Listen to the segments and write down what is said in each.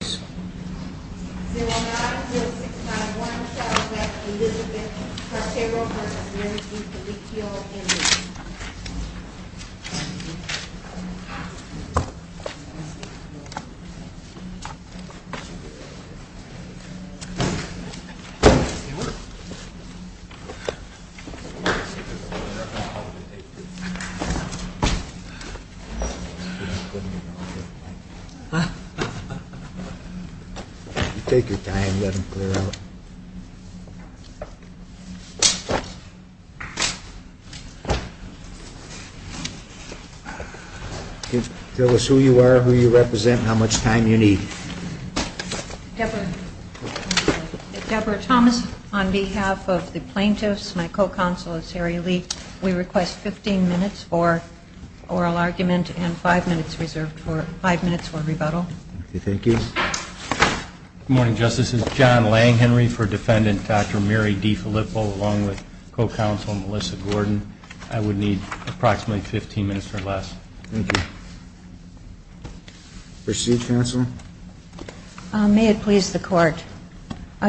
090651 Charlotte Elizabeth Carcharo v. DiFilippo Debra Thomas on behalf of the plaintiffs, my co-counsel is Harry Lee. We request 15 minutes for oral argument and five minutes reserved for rebuttal. Good morning, Justice. This is John Lang Henry for Defendant Dr. Mary DiFilippo, along with co-counsel Melissa Gordon. I would need approximately 15 minutes or less. Thank you. Proceed, counsel. May it please the Court.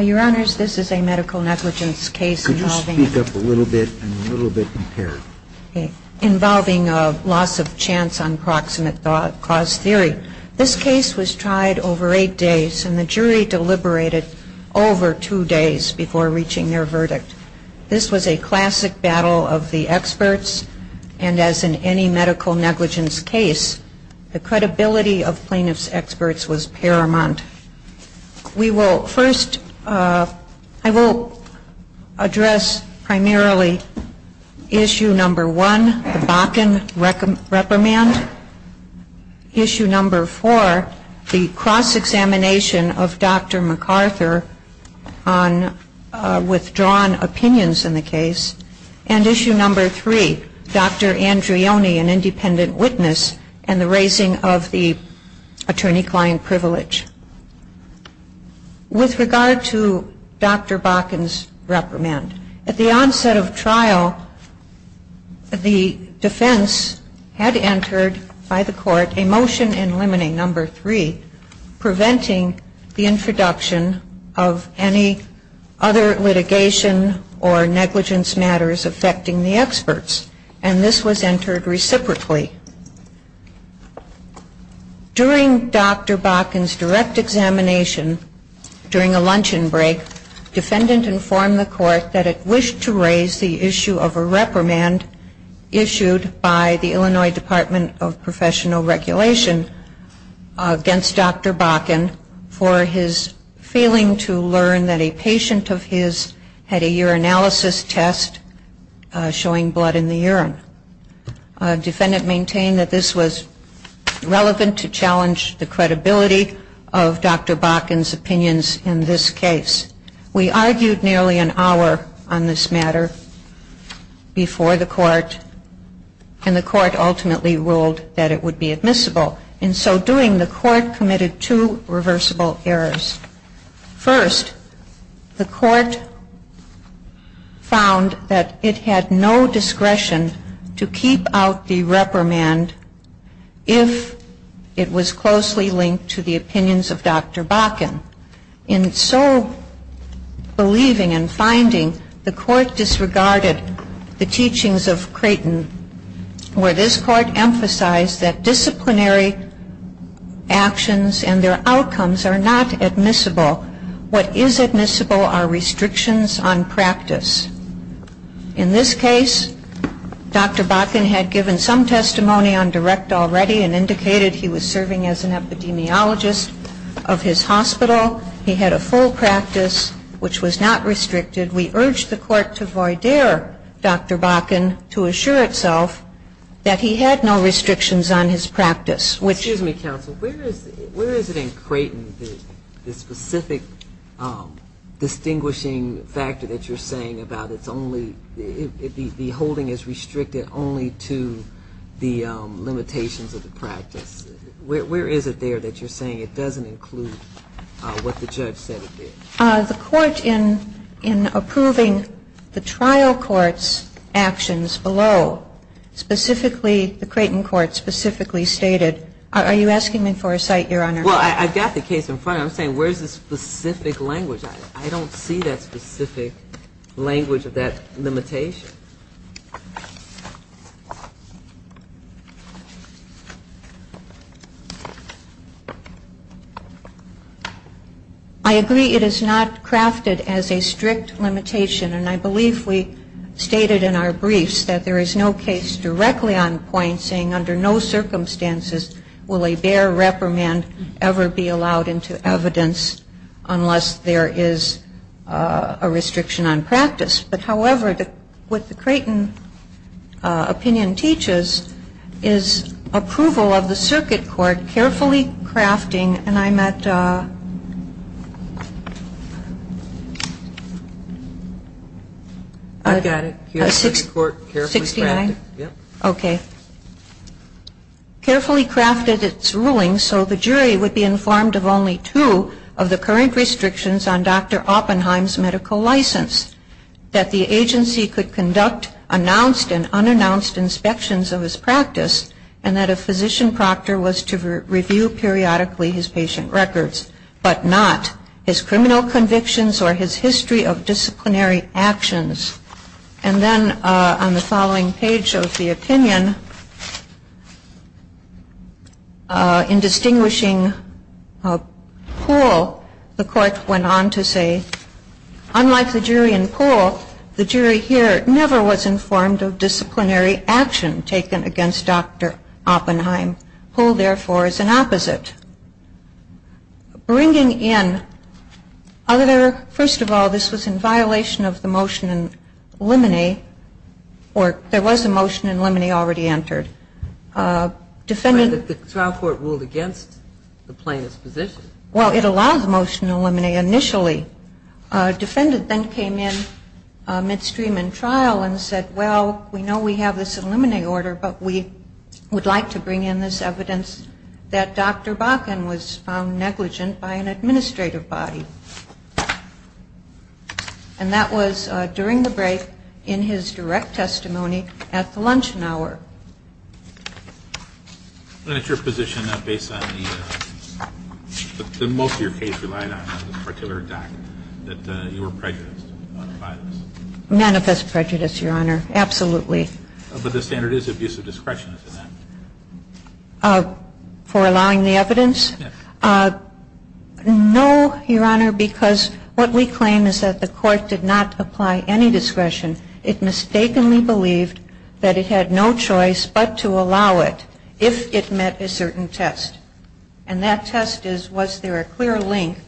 Your Honors, this is a medical negligence case involving Could you speak up a little bit? I'm a little bit impaired. involving a loss of chance on proximate cause theory. This case was tried over eight days and the jury deliberated over two days before reaching their verdict. This was a classic battle of the experts, and as in any medical negligence case, the credibility of plaintiffs' experts was paramount. We will first, I will address primarily issue number one, the Bakken reprimand. Issue number four, the cross-examination of Dr. MacArthur on withdrawn opinions in the case. And issue number three, Dr. Andreoni, an independent witness, and the raising of the attorney-client privilege. With regard to Dr. Bakken's reprimand, at the onset of trial, the defense had entered by the Court a motion in limiting number three, preventing the introduction of any other litigation or negligence matters affecting the experts. And this was entered reciprocally. During Dr. Bakken's direct examination, during a luncheon break, defendant informed the Court that it wished to raise the issue of a reprimand issued by the Illinois Department of Professional Regulation against Dr. Bakken for his failing to learn that a patient of his had a urinalysis test showing blood in the urine. Defendant maintained that this was relevant to challenge the credibility of Dr. Bakken's opinions in this case. We argued nearly an hour on this matter before the Court, and the Court ultimately ruled that it would be admissible. In so doing, the Court committed two reversible errors. First, the Court found that it had no discretion to keep out the reprimand if it was closely linked to the opinions of Dr. Bakken. In so believing and finding, the Court disregarded the teachings of Creighton, where this Court emphasized that disciplinary actions and their outcomes are not admissible. What is admissible are restrictions on practice. In this case, Dr. Bakken had given some testimony on direct already and indicated he was serving as an epidemiologist of his hospital. He had a full practice, which was not restricted. We urged the Court to voidare Dr. Bakken to assure itself that he had no restrictions on his practice. Excuse me, counsel. Where is it in Creighton, the specific distinguishing factor that you're saying about it's only the holding is restricted only to the limitations of the practice? Where is it there that you're saying it doesn't include what the judge said it did? The Court, in approving the trial court's actions below, specifically the Creighton court specifically stated, are you asking me for a cite, Your Honor? Well, I've got the case in front of me. I'm saying where is the specific language on it? I don't see that specific language of that limitation. I agree it is not crafted as a strict limitation. And I believe we stated in our briefs that there is no case directly on point saying under no circumstances will a bare reprimand ever be allowed into evidence unless there is a restriction on practice. But however, what the Creighton opinion teaches is approval of the circuit court carefully crafting, and I'm at 69. Okay. Carefully crafted its rulings so the jury would be informed of only two of the current restrictions on Dr. Oppenheim's medical license. That the agency could conduct announced and unannounced inspections of his practice and that a physician proctor was to review periodically his patient records, but not his criminal convictions or his history of disciplinary actions. And then on the following page of the opinion, in distinguishing a pool, the court went on to say, unlike the jury in pool, the jury here never was informed of disciplinary action taken against Dr. Oppenheim. Pool, therefore, is an opposite. Bringing in other, first of all, this was in violation of the motion in limine, or there was a motion in limine already entered. But the trial court ruled against the plaintiff's position. Well, it allowed the motion in limine initially. A defendant then came in midstream in trial and said, well, we know we have this in limine order, but we would like to bring in this evidence that Dr. Bakken was found negligent by an administrative body. And that was during the break in his direct testimony at the luncheon hour. And that's your position based on the, most of your case relied on the particular doc that you were prejudiced by this? Manifest prejudice, Your Honor. Absolutely. But the standard is abuse of discretion, isn't it? For allowing the evidence? Yes. No, Your Honor, because what we claim is that the court did not apply any discretion. It mistakenly believed that it had no choice but to allow it if it met a certain test. And that test is, was there a clear link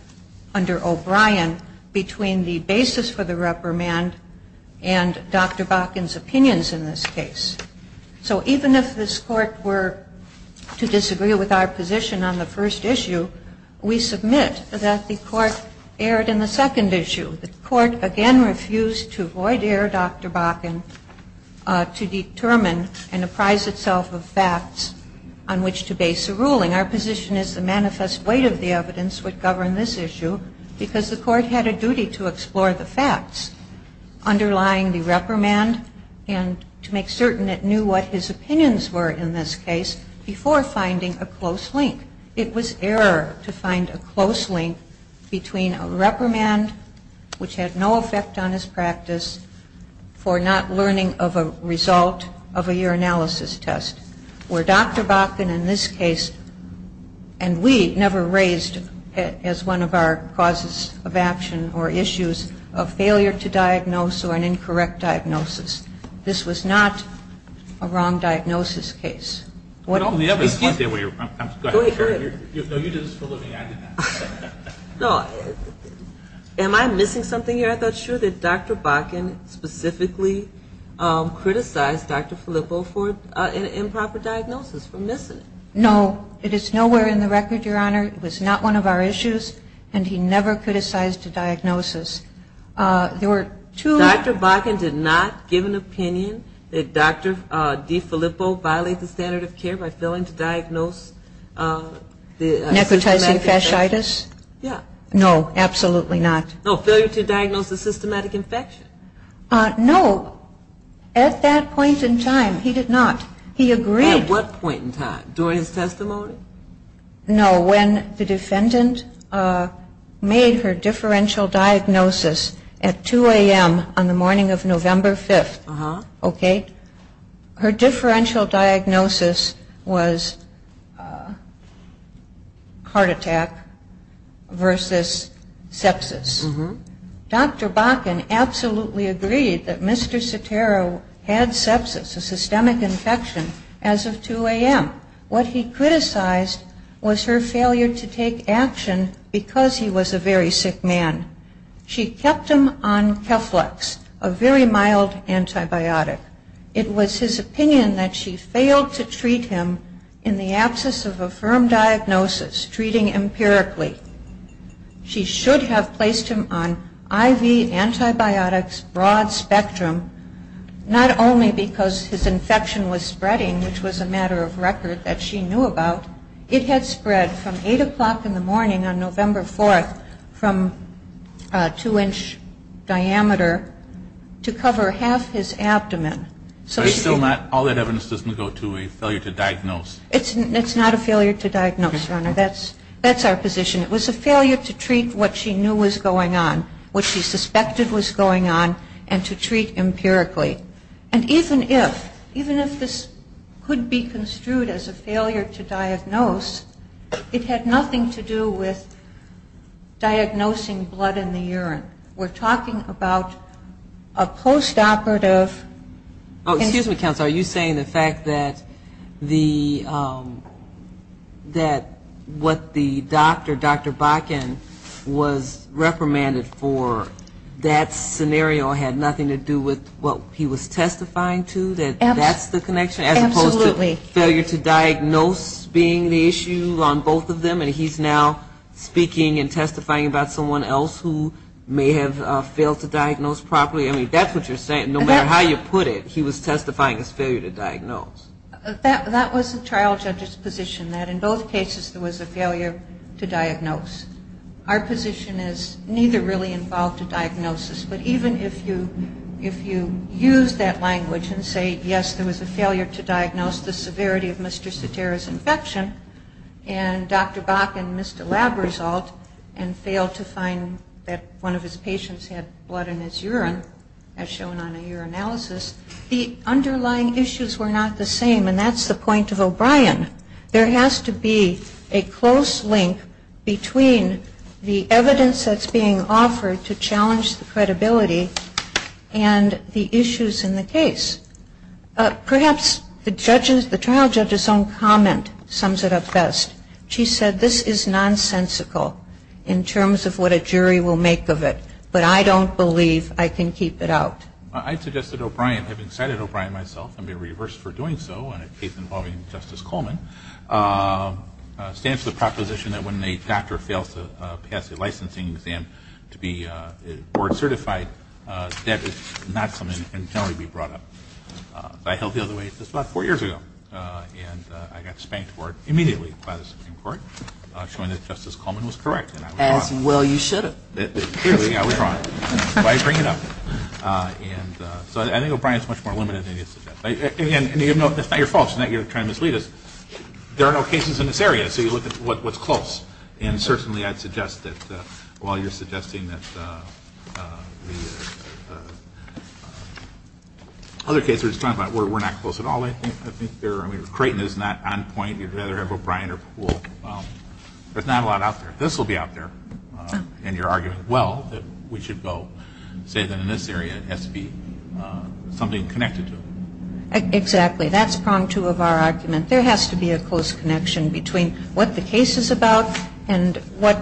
under O'Brien between the basis for the reprimand and Dr. Bakken's opinions in this case? So even if this Court were to disagree with our position on the first issue, we submit that the Court erred in the second issue. The Court, again, refused to avoid error, Dr. Bakken, to determine and apprise itself of facts on which to base a ruling. Our position is the manifest weight of the evidence would govern this issue because the Court had a duty to explore the facts underlying the reprimand and to make certain it knew what his opinions were in this case before finding a close link. I think it was error to find a close link between a reprimand, which had no effect on his practice, for not learning of a result of a urinalysis test, where Dr. Bakken in this case, and we never raised as one of our causes of action or issues of failure to diagnose or an incorrect diagnosis. This was not a wrong diagnosis case. Am I missing something here? I thought, sure, that Dr. Bakken specifically criticized Dr. Filippo for an improper diagnosis. We're missing it. No. It is nowhere in the record, Your Honor. It was not one of our issues, and he never criticized a diagnosis. There were two Dr. Bakken did not give an opinion that Dr. DeFilippo violated the standard of care by failing to diagnose the systematic infection. Necrotizing fasciitis? Yeah. No, absolutely not. No, failure to diagnose the systematic infection. No, at that point in time, he did not. He agreed. At what point in time? During his testimony? No, when the defendant made her differential diagnosis at 2 a.m. on the morning of November 5th. Uh-huh. Okay? Her differential diagnosis was heart attack versus sepsis. Uh-huh. Dr. Bakken absolutely agreed that Mr. Sotero had sepsis, a systemic infection, as of 2 a.m. What he criticized was her failure to take action because he was a very sick man. She kept him on Keflex, a very mild antibiotic. It was his opinion that she failed to treat him in the absence of a firm diagnosis, treating empirically. She should have placed him on IV antibiotics, broad spectrum, not only because his infection was spreading, which was a matter of record that she knew about. It had spread from 8 o'clock in the morning on November 4th from a 2-inch diameter to cover half his abdomen. But it's still not, all that evidence doesn't go to a failure to diagnose. It's not a failure to diagnose, Your Honor. That's our position. It was a failure to treat what she knew was going on, what she suspected was going on, and to treat empirically. And even if, even if this could be construed as a failure to diagnose, it had nothing to do with diagnosing blood in the urine. We're talking about a postoperative. Oh, excuse me, counsel. Are you saying the fact that the, that what the doctor, Dr. Bakken, was reprimanded for, that scenario had nothing to do with what he was testifying to, that that's the connection? Absolutely. As opposed to failure to diagnose being the issue on both of them, and he's now speaking and testifying about someone else who may have failed to diagnose properly. I mean, that's what you're saying. No matter how you put it, he was testifying as failure to diagnose. That was the trial judge's position, that in both cases there was a failure to diagnose. Our position is neither really involved a diagnosis. But even if you, if you use that language and say, yes, there was a failure to diagnose, the severity of Mr. Cetera's infection, and Dr. Bakken missed a lab result and failed to find that one of his patients had blood in his urine, as shown on a urinalysis, the underlying issues were not the same. And that's the point of O'Brien. There has to be a close link between the evidence that's being offered to challenge the credibility and the issues in the case. Perhaps the trial judge's own comment sums it up best. She said, this is nonsensical in terms of what a jury will make of it, but I don't believe I can keep it out. I suggested O'Brien, having cited O'Brien myself and be reversed for doing so in a case involving Justice Coleman, stands to the proposition that when a doctor fails to pass a licensing exam to be board certified, that is not something that can generally be brought up. I held the other way just about four years ago, and I got spanked for it immediately by the Supreme Court, showing that Justice Coleman was correct, and I was wrong. As well you should have. Clearly I was wrong. Why bring it up? And so I think O'Brien is much more limited than you suggest. And again, that's not your fault. It's not that you're trying to mislead us. There are no cases in this area, so you look at what's close. And certainly I'd suggest that while you're suggesting that the other cases we're talking about, we're not close at all. I think they're, I mean, Creighton is not on point. You'd rather have O'Brien or Poole. There's not a lot out there. This will be out there in your argument. Well, we should go say that in this area it has to be something connected to it. Exactly. That's prong two of our argument. There has to be a close connection between what the case is about and what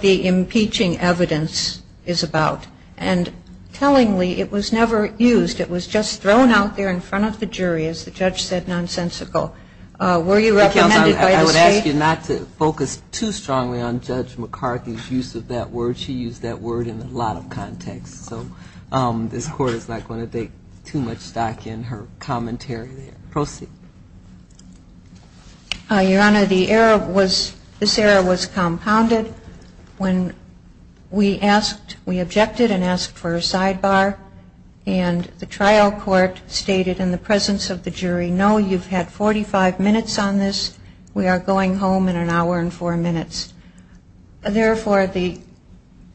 the impeaching evidence is about. And tellingly, it was never used. It was just thrown out there in front of the jury, as the judge said, nonsensical. Were you recommended by the state? I would ask you not to focus too strongly on Judge McCarthy's use of that word. She used that word in a lot of contexts. So this Court is not going to take too much stock in her commentary there. Proceed. Your Honor, the error was, this error was compounded. When we asked, we objected and asked for a sidebar. And the trial court stated in the presence of the jury, no, you've had 45 minutes on this. We are going home in an hour and four minutes. Therefore, the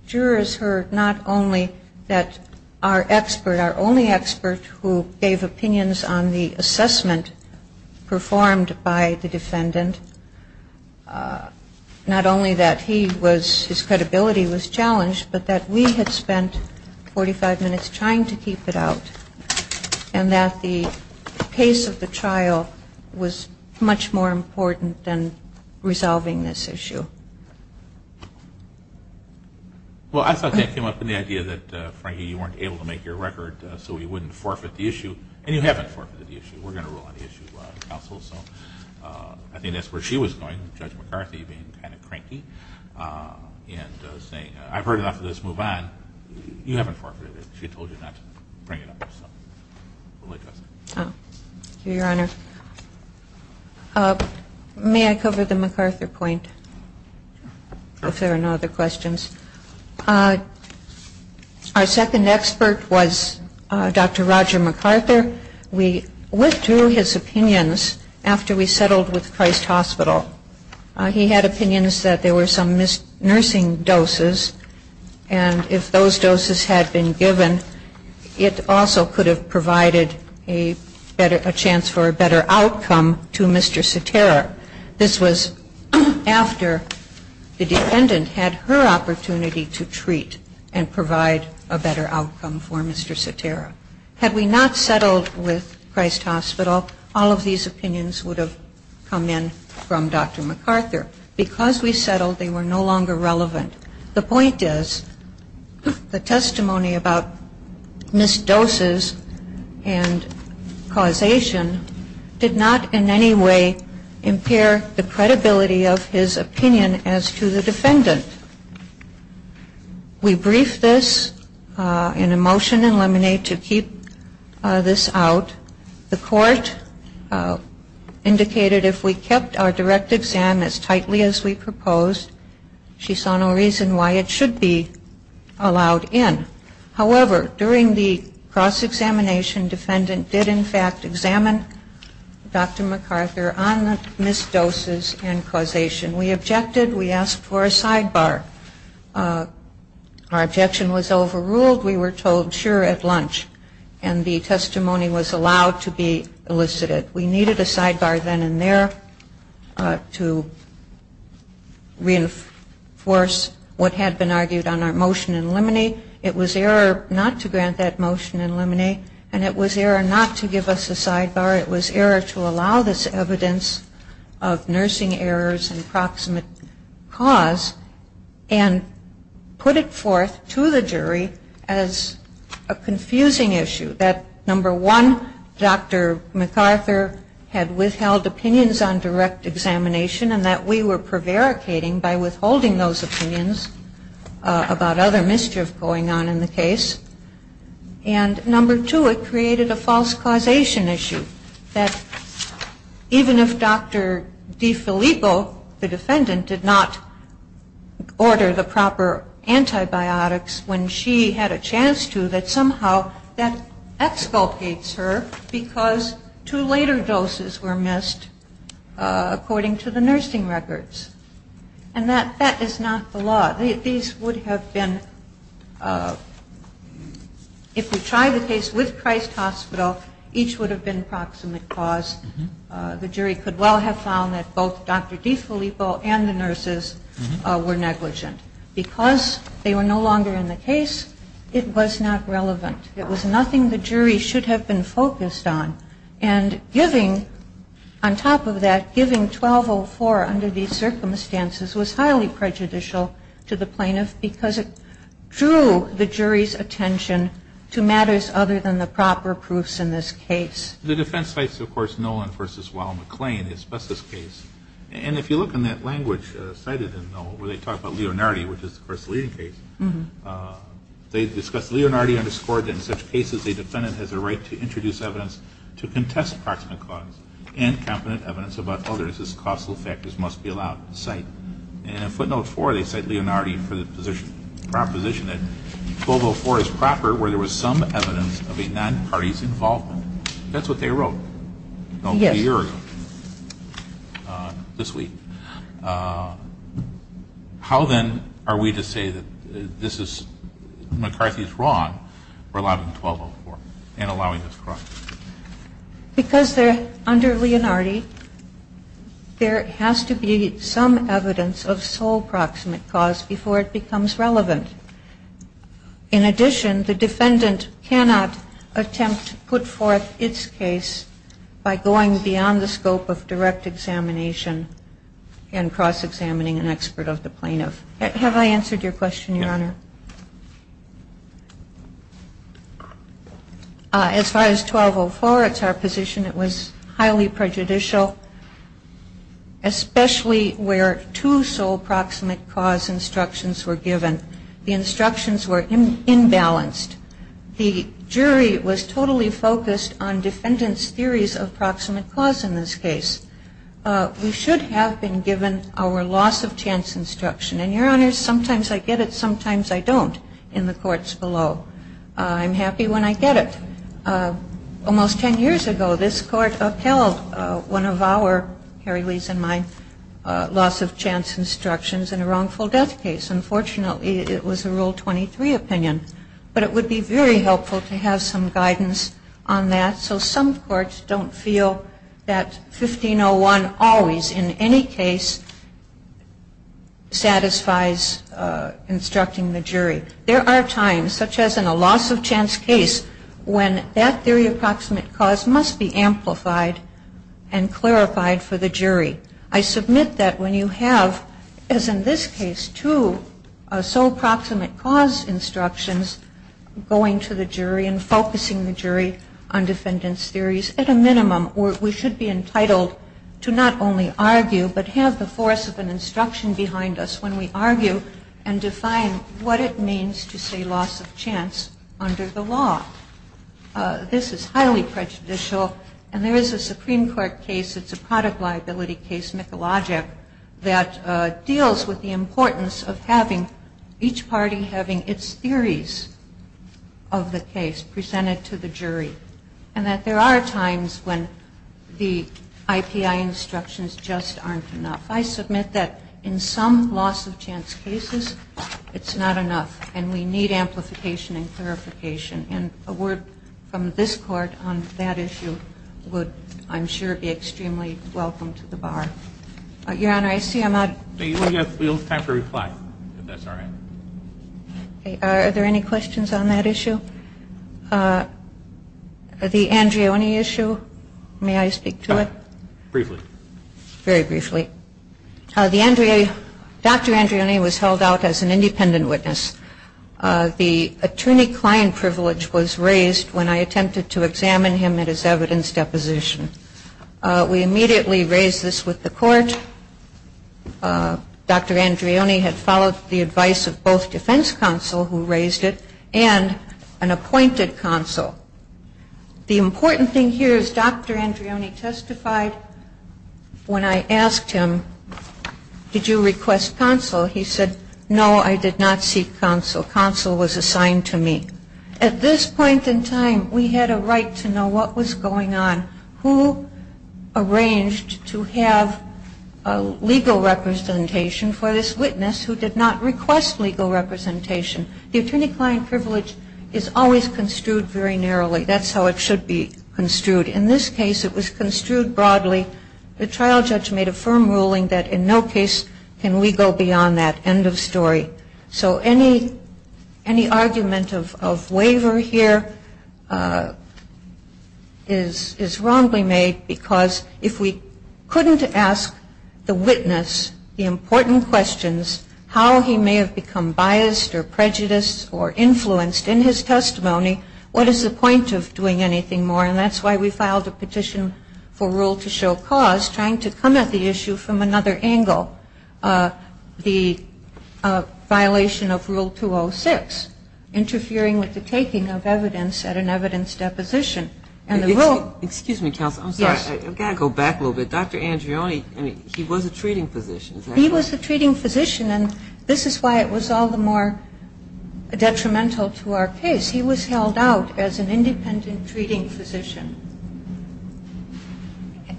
jurors heard not only that our expert, our only expert, who gave opinions on the assessment performed by the defendant, not only that he was, his credibility was challenged, but that we had spent 45 minutes trying to keep it out, and that the pace of the trial was much more important than resolving this issue. Well, I thought that came up in the idea that, Frankie, you weren't able to make your record so we wouldn't forfeit the issue. And you haven't forfeited the issue. We're going to rule on the issue, counsel. So I think that's where she was going, Judge McCarthy, being kind of cranky and saying, I've heard enough of this. Move on. You haven't forfeited it. She told you not to bring it up. So we'll let you ask. Thank you, Your Honor. May I cover the MacArthur point? Sure. If there are no other questions. Our second expert was Dr. Roger MacArthur. We went through his opinions after we settled with Christ Hospital. He had opinions that there were some nursing doses, and if those doses had been given, it also could have provided a chance for a better outcome to Mr. Cetera. This was after the dependent had her opportunity to treat and provide a better outcome for Mr. Cetera. Had we not settled with Christ Hospital, all of these opinions would have come in from Dr. MacArthur. Because we settled, they were no longer relevant. The point is, the testimony about missed doses and causation did not in any way impair the credibility of his opinion as to the defendant. We briefed this in a motion and lemonade to keep this out. The court indicated if we kept our direct exam as tightly as we proposed, she saw no reason why it should be allowed in. However, during the cross-examination, defendant did in fact examine Dr. MacArthur on missed doses and causation. We objected. We asked for a sidebar. Our objection was overruled. We were told sure at lunch, and the testimony was allowed to be elicited. We needed a sidebar then and there to reinforce what had been argued on our motion and lemonade. It was error not to grant that motion and lemonade, and it was error not to give us a sidebar. It was error to allow this evidence of nursing errors and proximate cause and put it forth to the jury as a confusing issue. That number one, Dr. MacArthur had withheld opinions on direct examination and that we were prevaricating by withholding those opinions about other mischief going on in the case. And number two, it created a false causation issue, that even if Dr. DeFilippo, the defendant, did not order the proper antibiotics, when she had a chance to, that somehow that exculpates her because two later doses were missed according to the nursing records. And that is not the law. These would have been, if we tried the case with Christ Hospital, each would have been proximate cause. The jury could well have found that both Dr. DeFilippo and the nurses were negligent because they were no longer in the case. It was not relevant. It was nothing the jury should have been focused on. And giving, on top of that, giving 1204 under these circumstances was highly prejudicial to the plaintiff because it drew the jury's attention to matters other than the proper proofs in this case. The defense cites, of course, Nolan v. Wild McClain, his bestest case. And if you look in that language cited in Nolan, where they talk about Leonardi, which is, of course, the leading case, they discuss, Leonardi underscored that in such cases a defendant has a right to introduce evidence to contest proximate cause and competent evidence about others as causal factors must be allowed to cite. And in footnote 4, they cite Leonardi for the proposition that 1204 is proper where there was some evidence of a non-party's involvement. That's what they wrote a year ago, this week. How, then, are we to say that this is, McCarthy is wrong for allowing 1204 and allowing this clause? Because under Leonardi, there has to be some evidence of sole proximate cause before it becomes relevant. In addition, the defendant cannot attempt to put forth its case by going beyond the scope of direct examination and cross-examining an expert of the plaintiff. Have I answered your question, Your Honor? As far as 1204, it's our position it was highly prejudicial, especially where two sole proximate cause instructions were given. The instructions were imbalanced. The jury was totally focused on defendant's theories of proximate cause in this case. We should have been given our loss-of-chance instruction. And, Your Honor, sometimes I get it, sometimes I don't in the courts below. I'm happy when I get it. Almost ten years ago, this court upheld one of our, Harry Lee's and mine, loss-of-chance instructions in a wrongful death case. Unfortunately, it was a Rule 23 opinion. But it would be very helpful to have some guidance on that so some courts don't feel that 1501 always, in any case, satisfies instructing the jury. There are times, such as in a loss-of-chance case, when that theory of proximate cause must be amplified and clarified for the jury. I submit that when you have, as in this case, two sole proximate cause instructions going to the jury and focusing the jury on defendant's theories, at a minimum we should be entitled to not only argue but have the force of an instruction behind us when we argue and define what it means to say loss-of-chance under the law. This is highly prejudicial. And there is a Supreme Court case, it's a product liability case, Mikulajic, that deals with the importance of having each party having its theories of the case presented to the jury. And that there are times when the IPI instructions just aren't enough. I submit that in some loss-of-chance cases it's not enough and we need amplification and clarification. And a word from this Court on that issue would, I'm sure, be extremely welcome to the bar. Your Honor, I see I'm out. We'll have time to reply, if that's all right. Are there any questions on that issue? The Andreoni issue, may I speak to it? Briefly. Very briefly. Dr. Andreoni was held out as an independent witness. The attorney-client privilege was raised when I attempted to examine him at his evidence deposition. We immediately raised this with the Court. Dr. Andreoni had followed the advice of both defense counsel who raised it and an appointed counsel. The important thing here is Dr. Andreoni testified when I asked him, did you request counsel? He said, no, I did not seek counsel. Counsel was assigned to me. At this point in time, we had a right to know what was going on, who arranged to have legal representation for this witness who did not request legal representation. The attorney-client privilege is always construed very narrowly. That's how it should be construed. In this case, it was construed broadly. The trial judge made a firm ruling that in no case can we go beyond that. End of story. So any argument of waiver here is wrongly made, because if we couldn't ask the witness the important questions, how he may have become biased or prejudiced or influenced in his testimony, what is the point of doing anything more? And that's why we filed a petition for rule to show cause, trying to come at the issue from another angle, the violation of Rule 206, interfering with the taking of evidence at an evidence deposition. And the rule ---- Excuse me, counsel. I'm sorry. I've got to go back a little bit. Dr. Andreoni, he was a treating physician. He was a treating physician. And this is why it was all the more detrimental to our case. He was held out as an independent treating physician,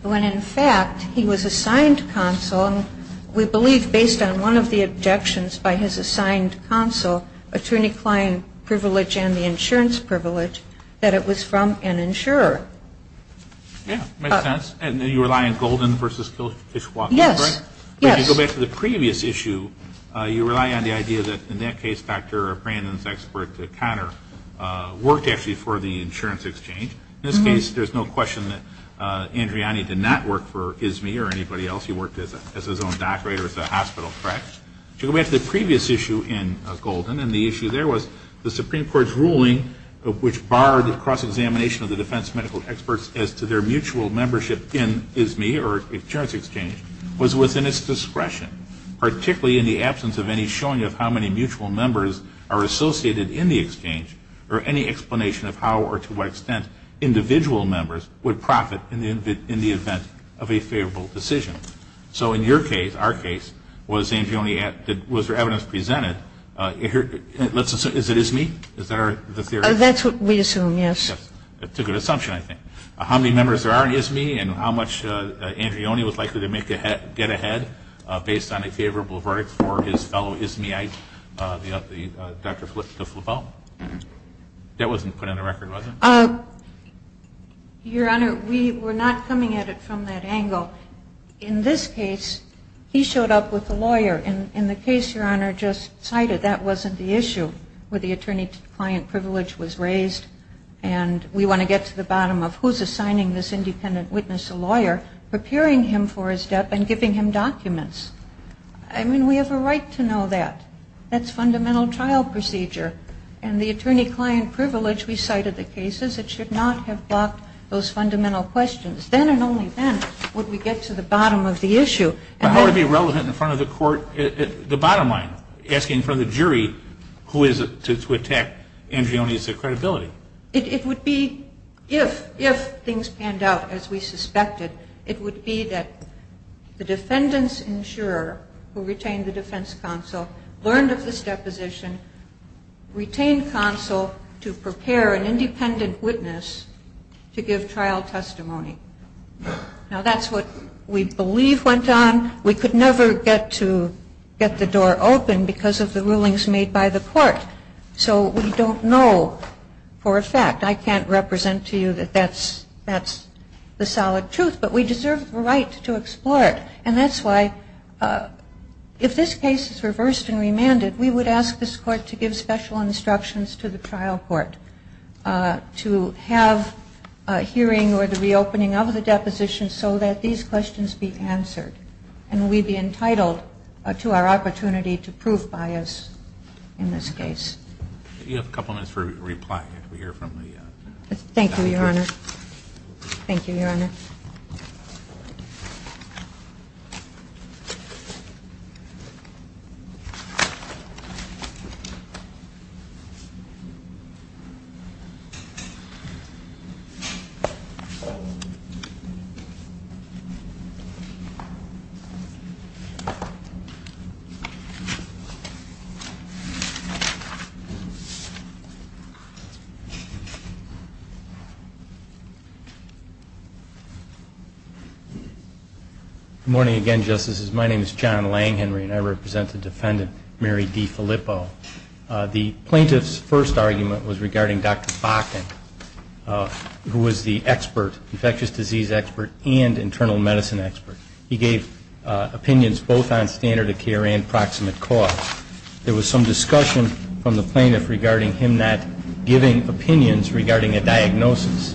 when in fact he was assigned counsel. And we believe, based on one of the objections by his assigned counsel, attorney-client privilege and the insurance privilege, that it was from an insurer. Yeah. It makes sense. And you rely on Golden v. Kishwa, right? Yes. If you go back to the previous issue, you rely on the idea that in that case Dr. Brandon's expert, Conner, worked actually for the insurance exchange. In this case, there's no question that Andreoni did not work for ISME or anybody else. He worked as his own doctorate or as a hospital. Correct? If you go back to the previous issue in Golden, and the issue there was the Supreme Court's ruling, which barred cross-examination of the defense medical experts as to their discretion, particularly in the absence of any showing of how many mutual members are associated in the exchange or any explanation of how or to what extent individual members would profit in the event of a favorable decision. So in your case, our case, was Andreoni at the – was there evidence presented – let's assume – is it ISME? Is that the theory? That's what we assume, yes. Yes. It's a good assumption, I think. How many members there are in ISME and how much Andreoni was likely to make a – get ahead based on a favorable verdict for his fellow ISME-ite, Dr. de Flavel? That wasn't put on the record, was it? Your Honor, we were not coming at it from that angle. In this case, he showed up with a lawyer. In the case Your Honor just cited, that wasn't the issue where the attorney-to-client privilege was raised. And we want to get to the bottom of who's assigning this independent witness a lawyer, preparing him for his debt, and giving him documents. I mean, we have a right to know that. That's fundamental trial procedure. And the attorney-client privilege we cited in the cases, it should not have blocked those fundamental questions. Then and only then would we get to the bottom of the issue. But how would it be relevant in front of the court, the bottom line, asking for the jury who is to attack Andreoni's credibility? It would be if, if things panned out as we suspected, it would be that the defendant's insurer, who retained the defense counsel, learned of this deposition, retained counsel to prepare an independent witness to give trial testimony. Now, that's what we believe went on. We could never get to get the door open because of the rulings made by the court. So we don't know for a fact. I can't represent to you that that's the solid truth. But we deserve the right to explore it. And that's why, if this case is reversed and remanded, we would ask this Court to give special instructions to the trial court to have a hearing or the reopening of the deposition so that these questions be answered. And we'd be entitled to our opportunity to prove bias in this case. You have a couple minutes for reply. Thank you, Your Honor. Thank you, Your Honor. Thank you, Your Honor. Good morning again, Justices. My name is John Langhenry, and I represent the defendant, Mary D. Filippo. The plaintiff's first argument was regarding Dr. Bakken, who was the expert, infectious disease expert and internal medicine expert. He gave opinions both on standard of care and proximate cause. There was some discussion from the plaintiff regarding him not giving opinions regarding a diagnosis.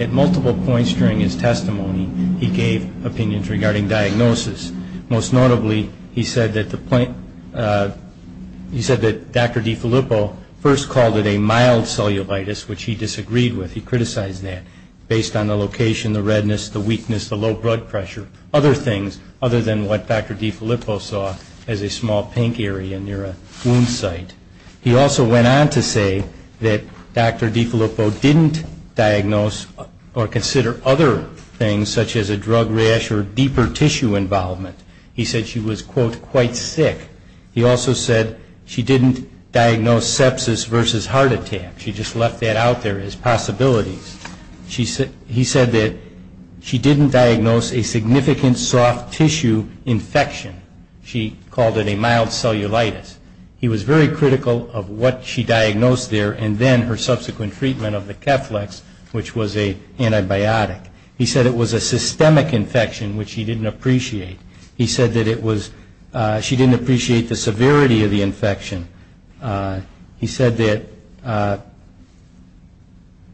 At multiple points during his testimony, he gave opinions regarding diagnosis. Most notably, he said that Dr. D. Filippo first called it a mild cellulitis, which he disagreed with. He criticized that based on the location, the redness, the weakness, the low blood pressure, other things other than what Dr. D. Filippo saw as a small pink area near a wound site. He also went on to say that Dr. D. Filippo didn't diagnose or consider other things such as a drug rash or deeper tissue involvement. He said she was, quote, quite sick. He also said she didn't diagnose sepsis versus heart attack. She just left that out there as possibilities. He said that she didn't diagnose a significant soft tissue infection. She called it a mild cellulitis. He was very critical of what she diagnosed there and then her subsequent treatment of the Keflex, which was an antibiotic. He said it was a systemic infection, which he didn't appreciate. He said that she didn't appreciate the severity of the infection. He said that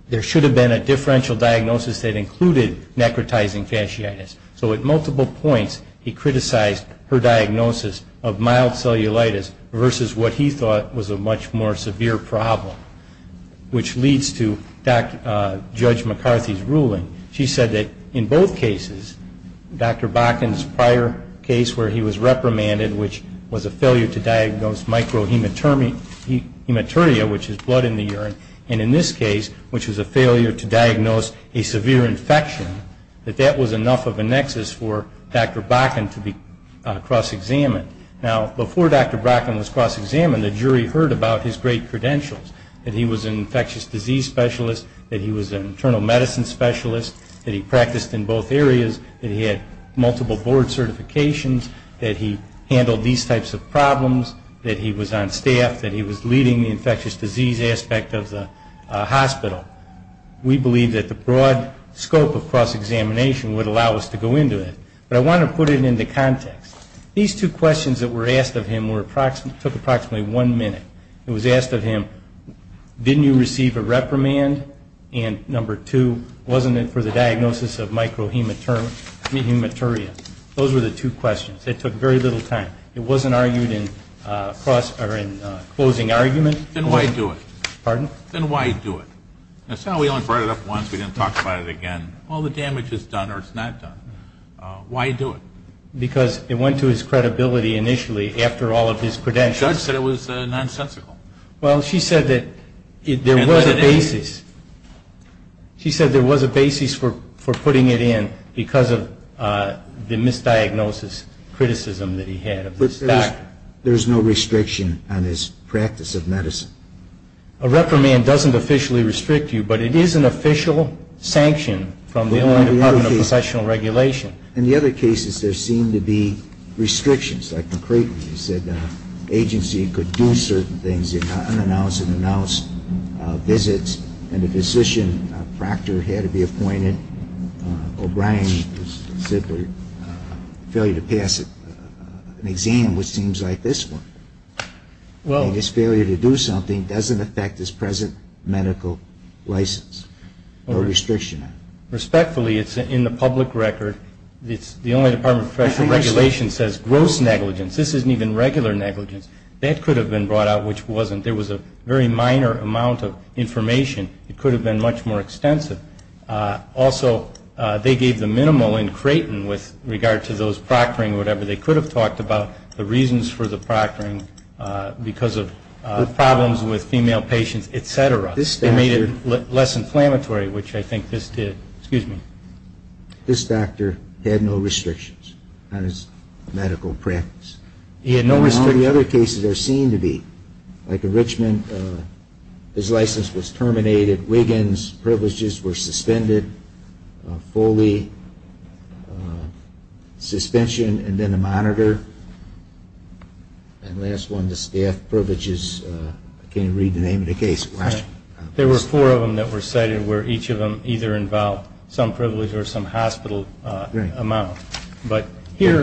there should have been a differential diagnosis that included necrotizing fasciitis. So at multiple points, he criticized her diagnosis of mild cellulitis versus what he thought was a much more severe problem, which leads to Judge McCarthy's ruling. She said that in both cases, Dr. Bakken's prior case where he was reprimanded, which was a failure to diagnose microhematuria, which is blood in the urine, and in this case, which was a failure to diagnose a severe infection, that that was enough of a nexus for Dr. Bakken to be cross-examined. Now, before Dr. Bakken was cross-examined, the jury heard about his great credentials, that he was an infectious disease specialist, that he was an internal medicine specialist, that he practiced in both areas, that he had multiple board certifications, that he handled these types of problems, that he was on staff, that he was leading the infectious disease aspect of the hospital. We believe that the broad scope of cross-examination would allow us to go into it. But I want to put it into context. These two questions that were asked of him took approximately one minute. It was asked of him, didn't you receive a reprimand? And number two, wasn't it for the diagnosis of microhematuria? Those were the two questions. It took very little time. It wasn't argued in closing argument. Then why do it? Pardon? Then why do it? It's not we only brought it up once, we didn't talk about it again. Well, the damage is done or it's not done. Why do it? Because it went to his credibility initially after all of his credentials. The judge said it was nonsensical. Well, she said that there was a basis. She said there was a basis for putting it in because of the misdiagnosis criticism that he had of this doctor. There's no restriction on his practice of medicine. A reprimand doesn't officially restrict you, but it is an official sanction from the Illinois Department of Professional Regulation. In the other cases, there seemed to be restrictions. Like McCrayton, he said the agency could do certain things, unannounced and announced visits. And the physician, a proctor, had to be appointed. O'Brien said the failure to pass an exam, which seems like this one, and his failure to do something doesn't affect his present medical license. No restriction on it. Respectfully, it's in the public record. The Illinois Department of Professional Regulation says gross negligence. This isn't even regular negligence. That could have been brought out, which wasn't. There was a very minor amount of information. It could have been much more extensive. Also, they gave the minimal in Crayton with regard to those proctoring, whatever they could have talked about, the reasons for the proctoring because of problems with female patients, et cetera. They made it less inflammatory, which I think this did. Excuse me. This doctor had no restrictions on his medical practice. He had no restrictions. In the other cases, there seemed to be. Like in Richmond, his license was terminated. At Wiggins, privileges were suspended fully. Suspension and then a monitor. And last one, the staff privileges. I can't read the name of the case. There were four of them that were cited where each of them either involved some privilege or some hospital amount. But here,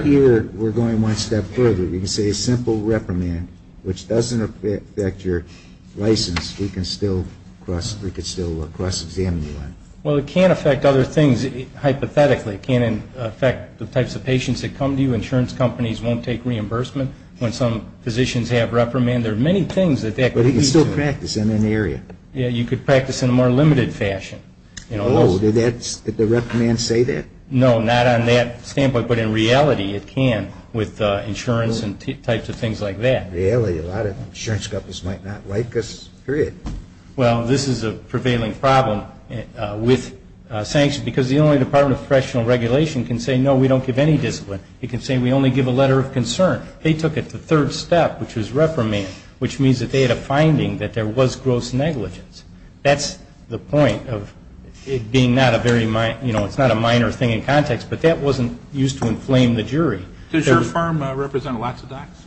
we're going one step further. You can say a simple reprimand, which doesn't affect your license, we can still cross-examine you on. Well, it can affect other things. Hypothetically, it can affect the types of patients that come to you. Insurance companies won't take reimbursement when some physicians have reprimand. There are many things that that could lead to. But he could still practice in an area. Yeah, you could practice in a more limited fashion. Oh, did the reprimand say that? No, not on that standpoint. But in reality, it can with insurance and types of things like that. In reality, a lot of insurance companies might not like us, period. Well, this is a prevailing problem with sanctions because the only Department of Correctional Regulation can say, no, we don't give any discipline. It can say we only give a letter of concern. They took it to the third step, which was reprimand, which means that they had a finding that there was gross negligence. That's the point of it being not a very, you know, it's not a minor thing in context. But that wasn't used to inflame the jury. Does your firm represent lots of docs?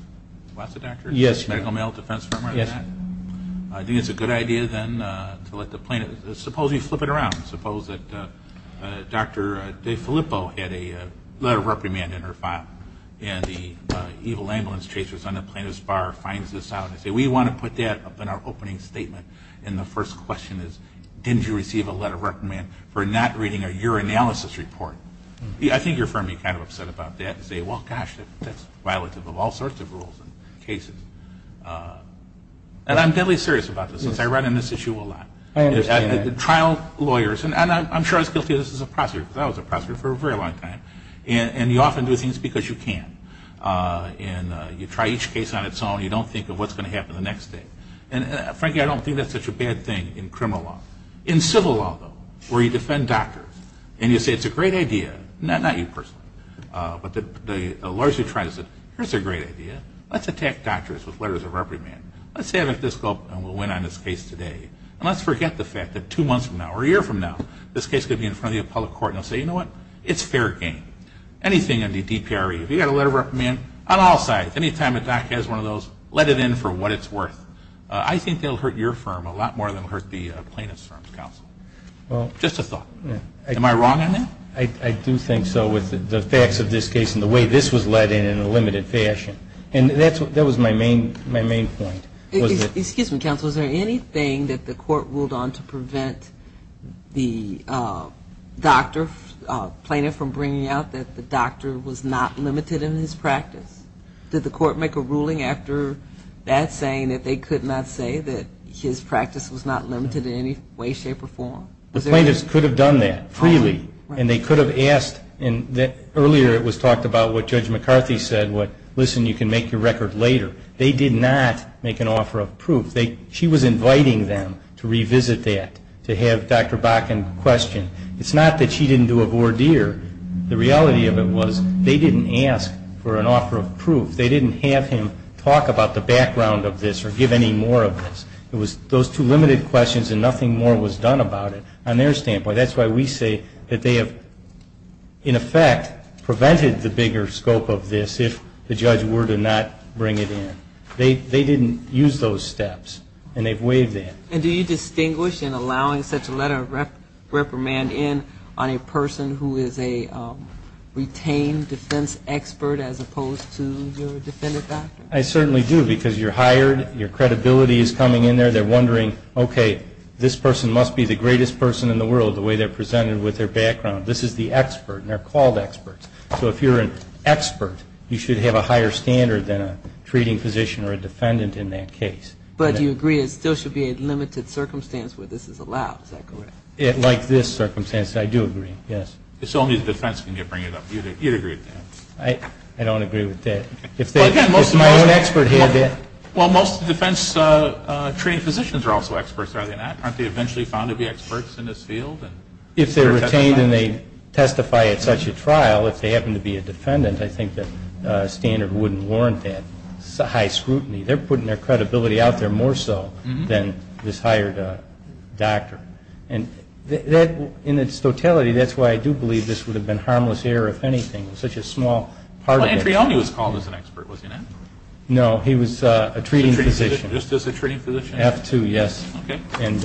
Lots of doctors? Yes. Medical male defense firm? Yes. I think it's a good idea then to let the plaintiff, suppose you flip it around, suppose that Dr. DeFilippo had a letter of reprimand in her file and the evil ambulance chasers on the plaintiff's bar finds this out. They say, we want to put that up in our opening statement. And the first question is, didn't you receive a letter of reprimand for not reading a urinalysis report? I think your firm would be kind of upset about that and say, well, gosh, that's violative of all sorts of rules and cases. And I'm deadly serious about this since I run on this issue a lot. I understand that. Trial lawyers, and I'm sure I was guilty of this as a prosecutor because I was a prosecutor for a very long time. And you often do things because you can. And you try each case on its own. You don't think of what's going to happen the next day. And, frankly, I don't think that's such a bad thing in criminal law. In civil law, though, where you defend doctors and you say it's a great idea, not you personally, but the lawyers who try to say, here's a great idea. Let's attack doctors with letters of reprimand. Let's say I have a physical and we'll win on this case today. And let's forget the fact that two months from now or a year from now, this case could be in front of the appellate court and they'll say, you know what, it's fair game. Anything in the DPRE, if you've got a letter of reprimand, on all sides, any time a doc has one of those, let it in for what it's worth. I think they'll hurt your firm a lot more than they'll hurt the plaintiff's firm, counsel. Just a thought. Am I wrong on that? I do think so with the facts of this case and the way this was led in in a limited fashion. And that was my main point. Excuse me, counsel. Is there anything that the court ruled on to prevent the doctor, plaintiff, from bringing out that the doctor was not limited in his practice? Did the court make a ruling after that saying that they could not say that his practice was not limited in any way, shape, or form? The plaintiffs could have done that freely. And they could have asked. Earlier it was talked about what Judge McCarthy said, listen, you can make your record later. They did not make an offer of proof. She was inviting them to revisit that, to have Dr. Bakken question. It's not that she didn't do a voir dire. The reality of it was they didn't ask for an offer of proof. They didn't have him talk about the background of this or give any more of this. It was those two limited questions and nothing more was done about it. On their standpoint, that's why we say that they have, in effect, prevented the bigger scope of this if the judge were to not bring it in. They didn't use those steps. And they've waived that. And do you distinguish in allowing such a letter of reprimand in on a person who is a retained defense expert as opposed to your defendant doctor? I certainly do because you're hired, your credibility is coming in there. They're wondering, okay, this person must be the greatest person in the world, the way they're presented with their background. This is the expert, and they're called experts. So if you're an expert, you should have a higher standard than a treating physician or a defendant in that case. But do you agree it still should be a limited circumstance where this is allowed? Is that correct? Like this circumstance, I do agree, yes. So only the defense can bring it up. You'd agree with that? I don't agree with that. If my own expert had that. Well, most defense treating physicians are also experts, are they not? Aren't they eventually found to be experts in this field? If they're retained and they testify at such a trial, if they happen to be a defendant, I think the standard wouldn't warrant that high scrutiny. They're putting their credibility out there more so than this hired doctor. And in its totality, that's why I do believe this would have been harmless error if anything. It's such a small part of it. Well, Andrew Elney was called as an expert, was he not? No, he was a treating physician. Just as a treating physician? F-2, yes. Okay. And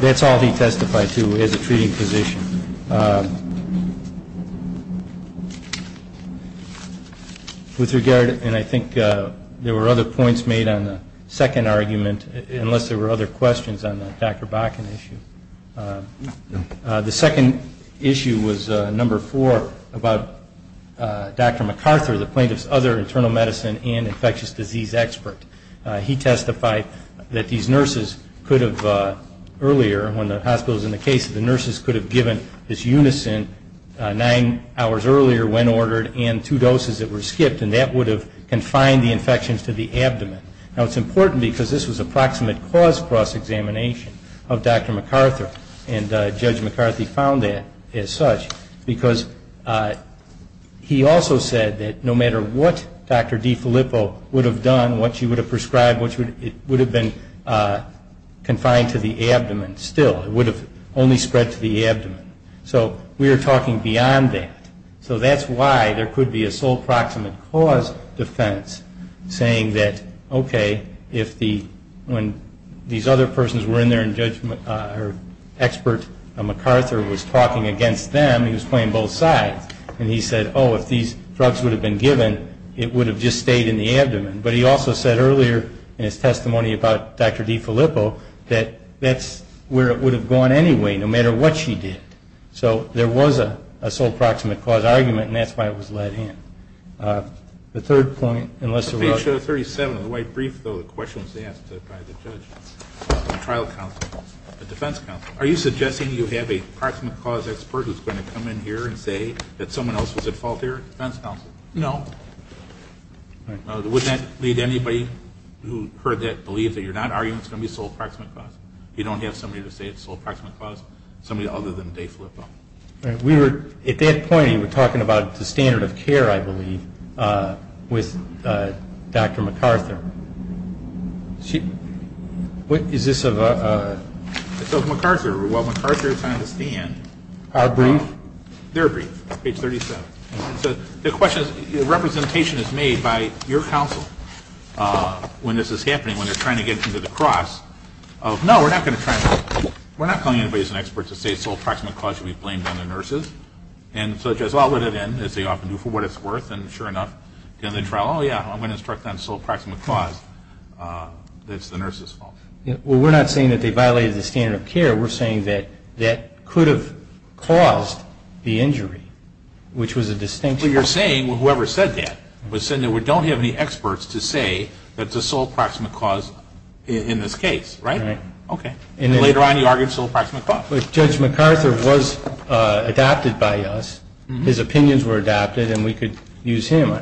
that's all he testified to as a treating physician. With regard, and I think there were other points made on the second argument, unless there were other questions on the Dr. Bakken issue. The second issue was number four about Dr. MacArthur, the plaintiff's other internal medicine and infectious disease expert. He testified that these nurses could have earlier, when the hospital was in the case, the nurses could have given this unison nine hours earlier when ordered and two doses that were skipped and that would have confined the infections to the abdomen. Now, it's important because this was approximate cause cross-examination of Dr. MacArthur and Judge MacArthur found that as such because he also said that no matter what Dr. DiFilippo would have done, what she would have prescribed, it would have been confined to the abdomen still. It would have only spread to the abdomen. So we are talking beyond that. So that's why there could be a sole proximate cause defense saying that, okay, when these other persons were in there and Expert MacArthur was talking against them, he was playing both sides, and he said, oh, if these drugs would have been given, it would have just stayed in the abdomen. But he also said earlier in his testimony about Dr. DiFilippo that that's where it would have gone anyway, no matter what she did. So there was a sole proximate cause argument, and that's why it was let in. The third point, unless there were others. Page 37 of the White Brief, though, the question was asked by the judge, the trial counsel, the defense counsel. Are you suggesting you have a proximate cause expert who's going to come in here and say that someone else was at fault here, defense counsel? No. All right. Would that lead anybody who heard that believe that you're not arguing it's going to be a sole proximate cause? You don't have somebody to say it's a sole proximate cause? Somebody other than DiFilippo. All right. At that point, he was talking about the standard of care, I believe, with Dr. MacArthur. Is this of a? It's of MacArthur. While MacArthur is on the stand. Our brief? Their brief, page 37. The question is, representation is made by your counsel when this is happening, when they're trying to get into the cross of, no, we're not going to try to, we're not calling anybody as an expert to say sole proximate cause should be blamed on the nurses. And so the judge will outlet it in, as they often do, for what it's worth, and sure enough, at the end of the trial, oh, yeah, I'm going to instruct on sole proximate cause that it's the nurses' fault. Well, we're not saying that they violated the standard of care. We're saying that that could have caused the injury, which was a distinction. Well, you're saying whoever said that was saying that we don't have any experts to say that the sole proximate cause, in this case, right? Right. Okay. And later on, you argued sole proximate cause. But Judge MacArthur was adopted by us. His opinions were adopted, and we could use him.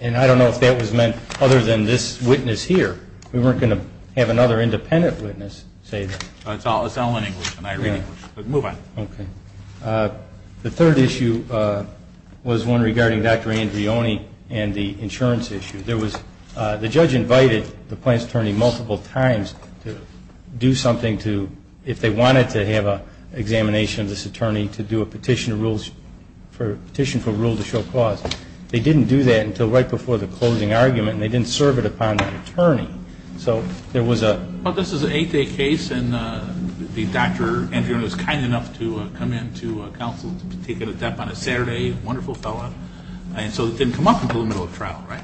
And I don't know if that was meant other than this witness here. We weren't going to have another independent witness say that. It's all in English, and I agree with you. But move on. Okay. The third issue was one regarding Dr. Andreone and the insurance issue. There was the judge invited the plaintiff's attorney multiple times to do something to, if they wanted to have an examination of this attorney to do a petition for rule to show cause. They didn't do that until right before the closing argument, and they didn't serve it upon that attorney. So there was a Well, this is an eight-day case, and Dr. Andreone was kind enough to come in to counsel, to take it at depth on a Saturday, wonderful fellow. And so it didn't come up until the middle of trial, right?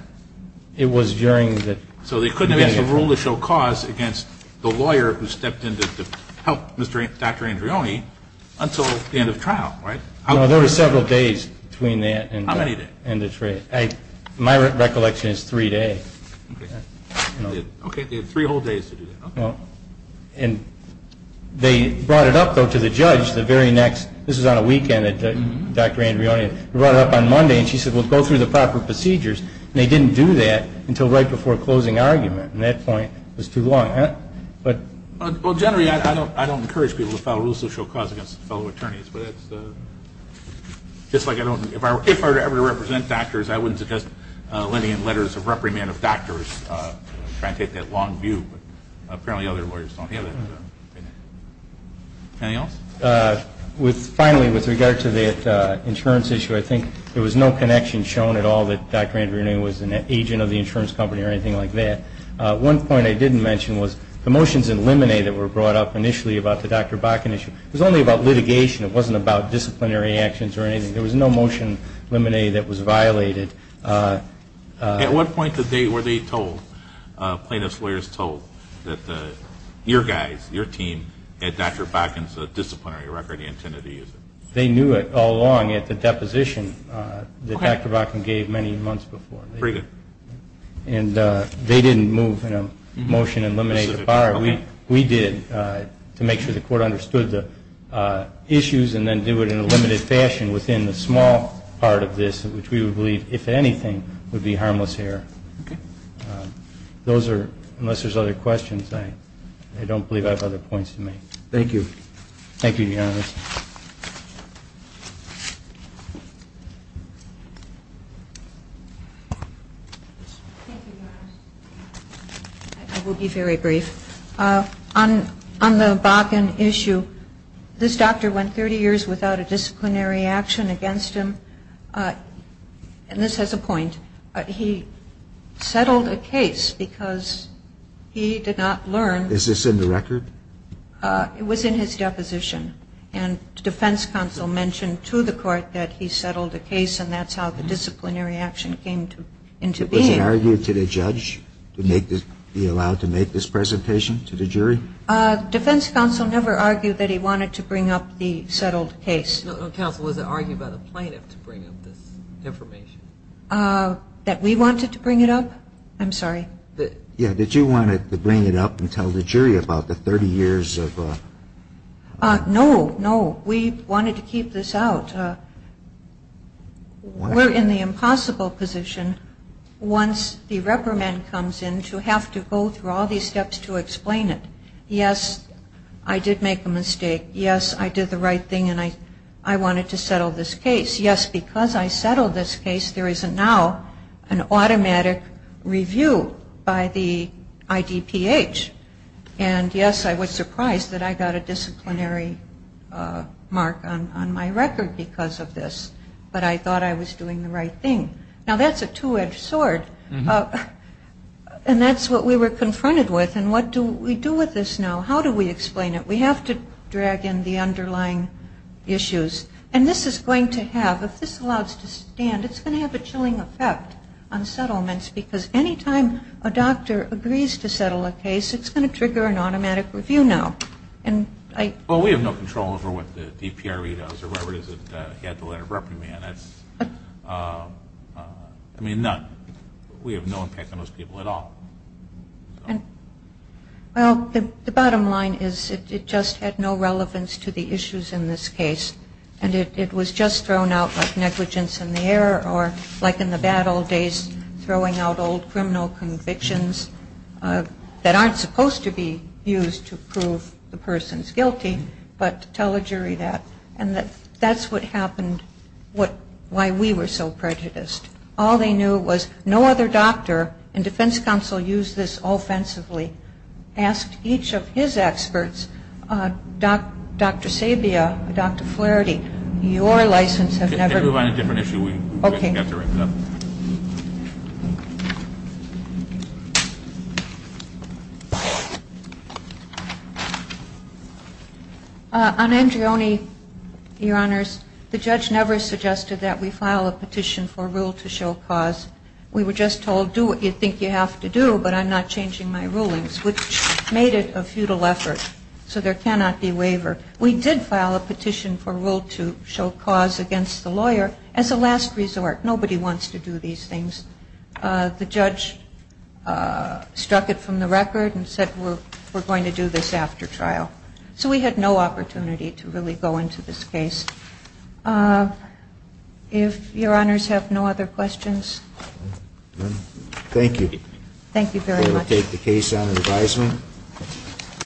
It was during the So they couldn't have asked for rule to show cause against the lawyer who stepped in to help Dr. Andreone until the end of trial, right? No, there were several days between that and How many days? My recollection is three days. Okay. They had three whole days to do that. And they brought it up, though, to the judge the very next This was on a weekend that Dr. Andreone brought it up on Monday, and she said, well, go through the proper procedures. And they didn't do that until right before closing argument. And that point was too long. Well, generally, I don't encourage people to file rule to show cause against fellow attorneys, but that's just like I don't If I were to ever represent doctors, I wouldn't suggest lending in letters of reprimand of doctors to try and take that long view. But apparently other lawyers don't have that. Anything else? Finally, with regard to the insurance issue, I think there was no connection shown at all that Dr. Andreone was an agent of the insurance company or anything like that. One point I didn't mention was the motions in Limine that were brought up initially about the Dr. Bakken issue. It was only about litigation. It wasn't about disciplinary actions or anything. There was no motion in Limine that was violated. At what point were they told, plaintiff's lawyers told, that your guys, your team, had Dr. Bakken's disciplinary record and intended to use it? They knew it all along at the deposition that Dr. Bakken gave many months before. Very good. And they didn't move a motion in Limine to fire. We did to make sure the court understood the issues and then do it in a limited fashion within the small part of this, which we would believe, if anything, would be harmless error. Okay. Those are, unless there's other questions, I don't believe I have other points to make. Thank you. Thank you, Your Honor. I will be very brief. On the Bakken issue, this doctor went 30 years without a disciplinary action against him. And this has a point. He settled a case because he did not learn. Is this in the record? It was in his deposition. And defense counsel mentioned to the court that he settled a case and that's how the disciplinary action came into being. Did he argue to the judge to be allowed to make this presentation to the jury? Defense counsel never argued that he wanted to bring up the settled case. No, counsel, was it argued by the plaintiff to bring up this information? That we wanted to bring it up? I'm sorry. Yeah, did you want to bring it up and tell the jury about the 30 years of? No, no. We wanted to keep this out. We're in the impossible position, once the reprimand comes in, to have to go through all these steps to explain it. Yes, I did make a mistake. Yes, I did the right thing and I wanted to settle this case. Yes, because I settled this case, there is now an automatic review by the IDPH. And yes, I was surprised that I got a disciplinary mark on my record because of this, but I thought I was doing the right thing. Now, that's a two-edged sword and that's what we were confronted with and what do we do with this now? How do we explain it? We have to drag in the underlying issues. And this is going to have, if this allows to stand, it's going to have a chilling effect on settlements because any time a doctor agrees to settle a case, it's going to trigger an automatic review now. Well, we have no control over what the DPRE does or whoever it is that had the letter of reprimand. I mean, none. We have no impact on those people at all. Well, the bottom line is it just had no relevance to the issues in this case and it was just thrown out like negligence in the air or like in the bad old days throwing out old criminal convictions that aren't supposed to be used to prove the person's guilty, but to tell a jury that. And that's what happened, why we were so prejudiced. All they knew was no other doctor in defense counsel used this offensively, asked each of his experts, Dr. Sabia, Dr. Flaherty, your license has never... On Andreone, Your Honors, the judge never suggested that we file a petition for rule to show cause. We were just told do what you think you have to do, but I'm not changing my rulings, which made it a futile effort. So there cannot be waiver. We did file a petition for rule to show cause against the lawyer as a last resort. Nobody wants to do these things. The judge struck it from the record and said we're going to do this after trial. So we had no opportunity to really go into this case. If Your Honors have no other questions. Thank you. Thank you very much. We will take the case on advisement.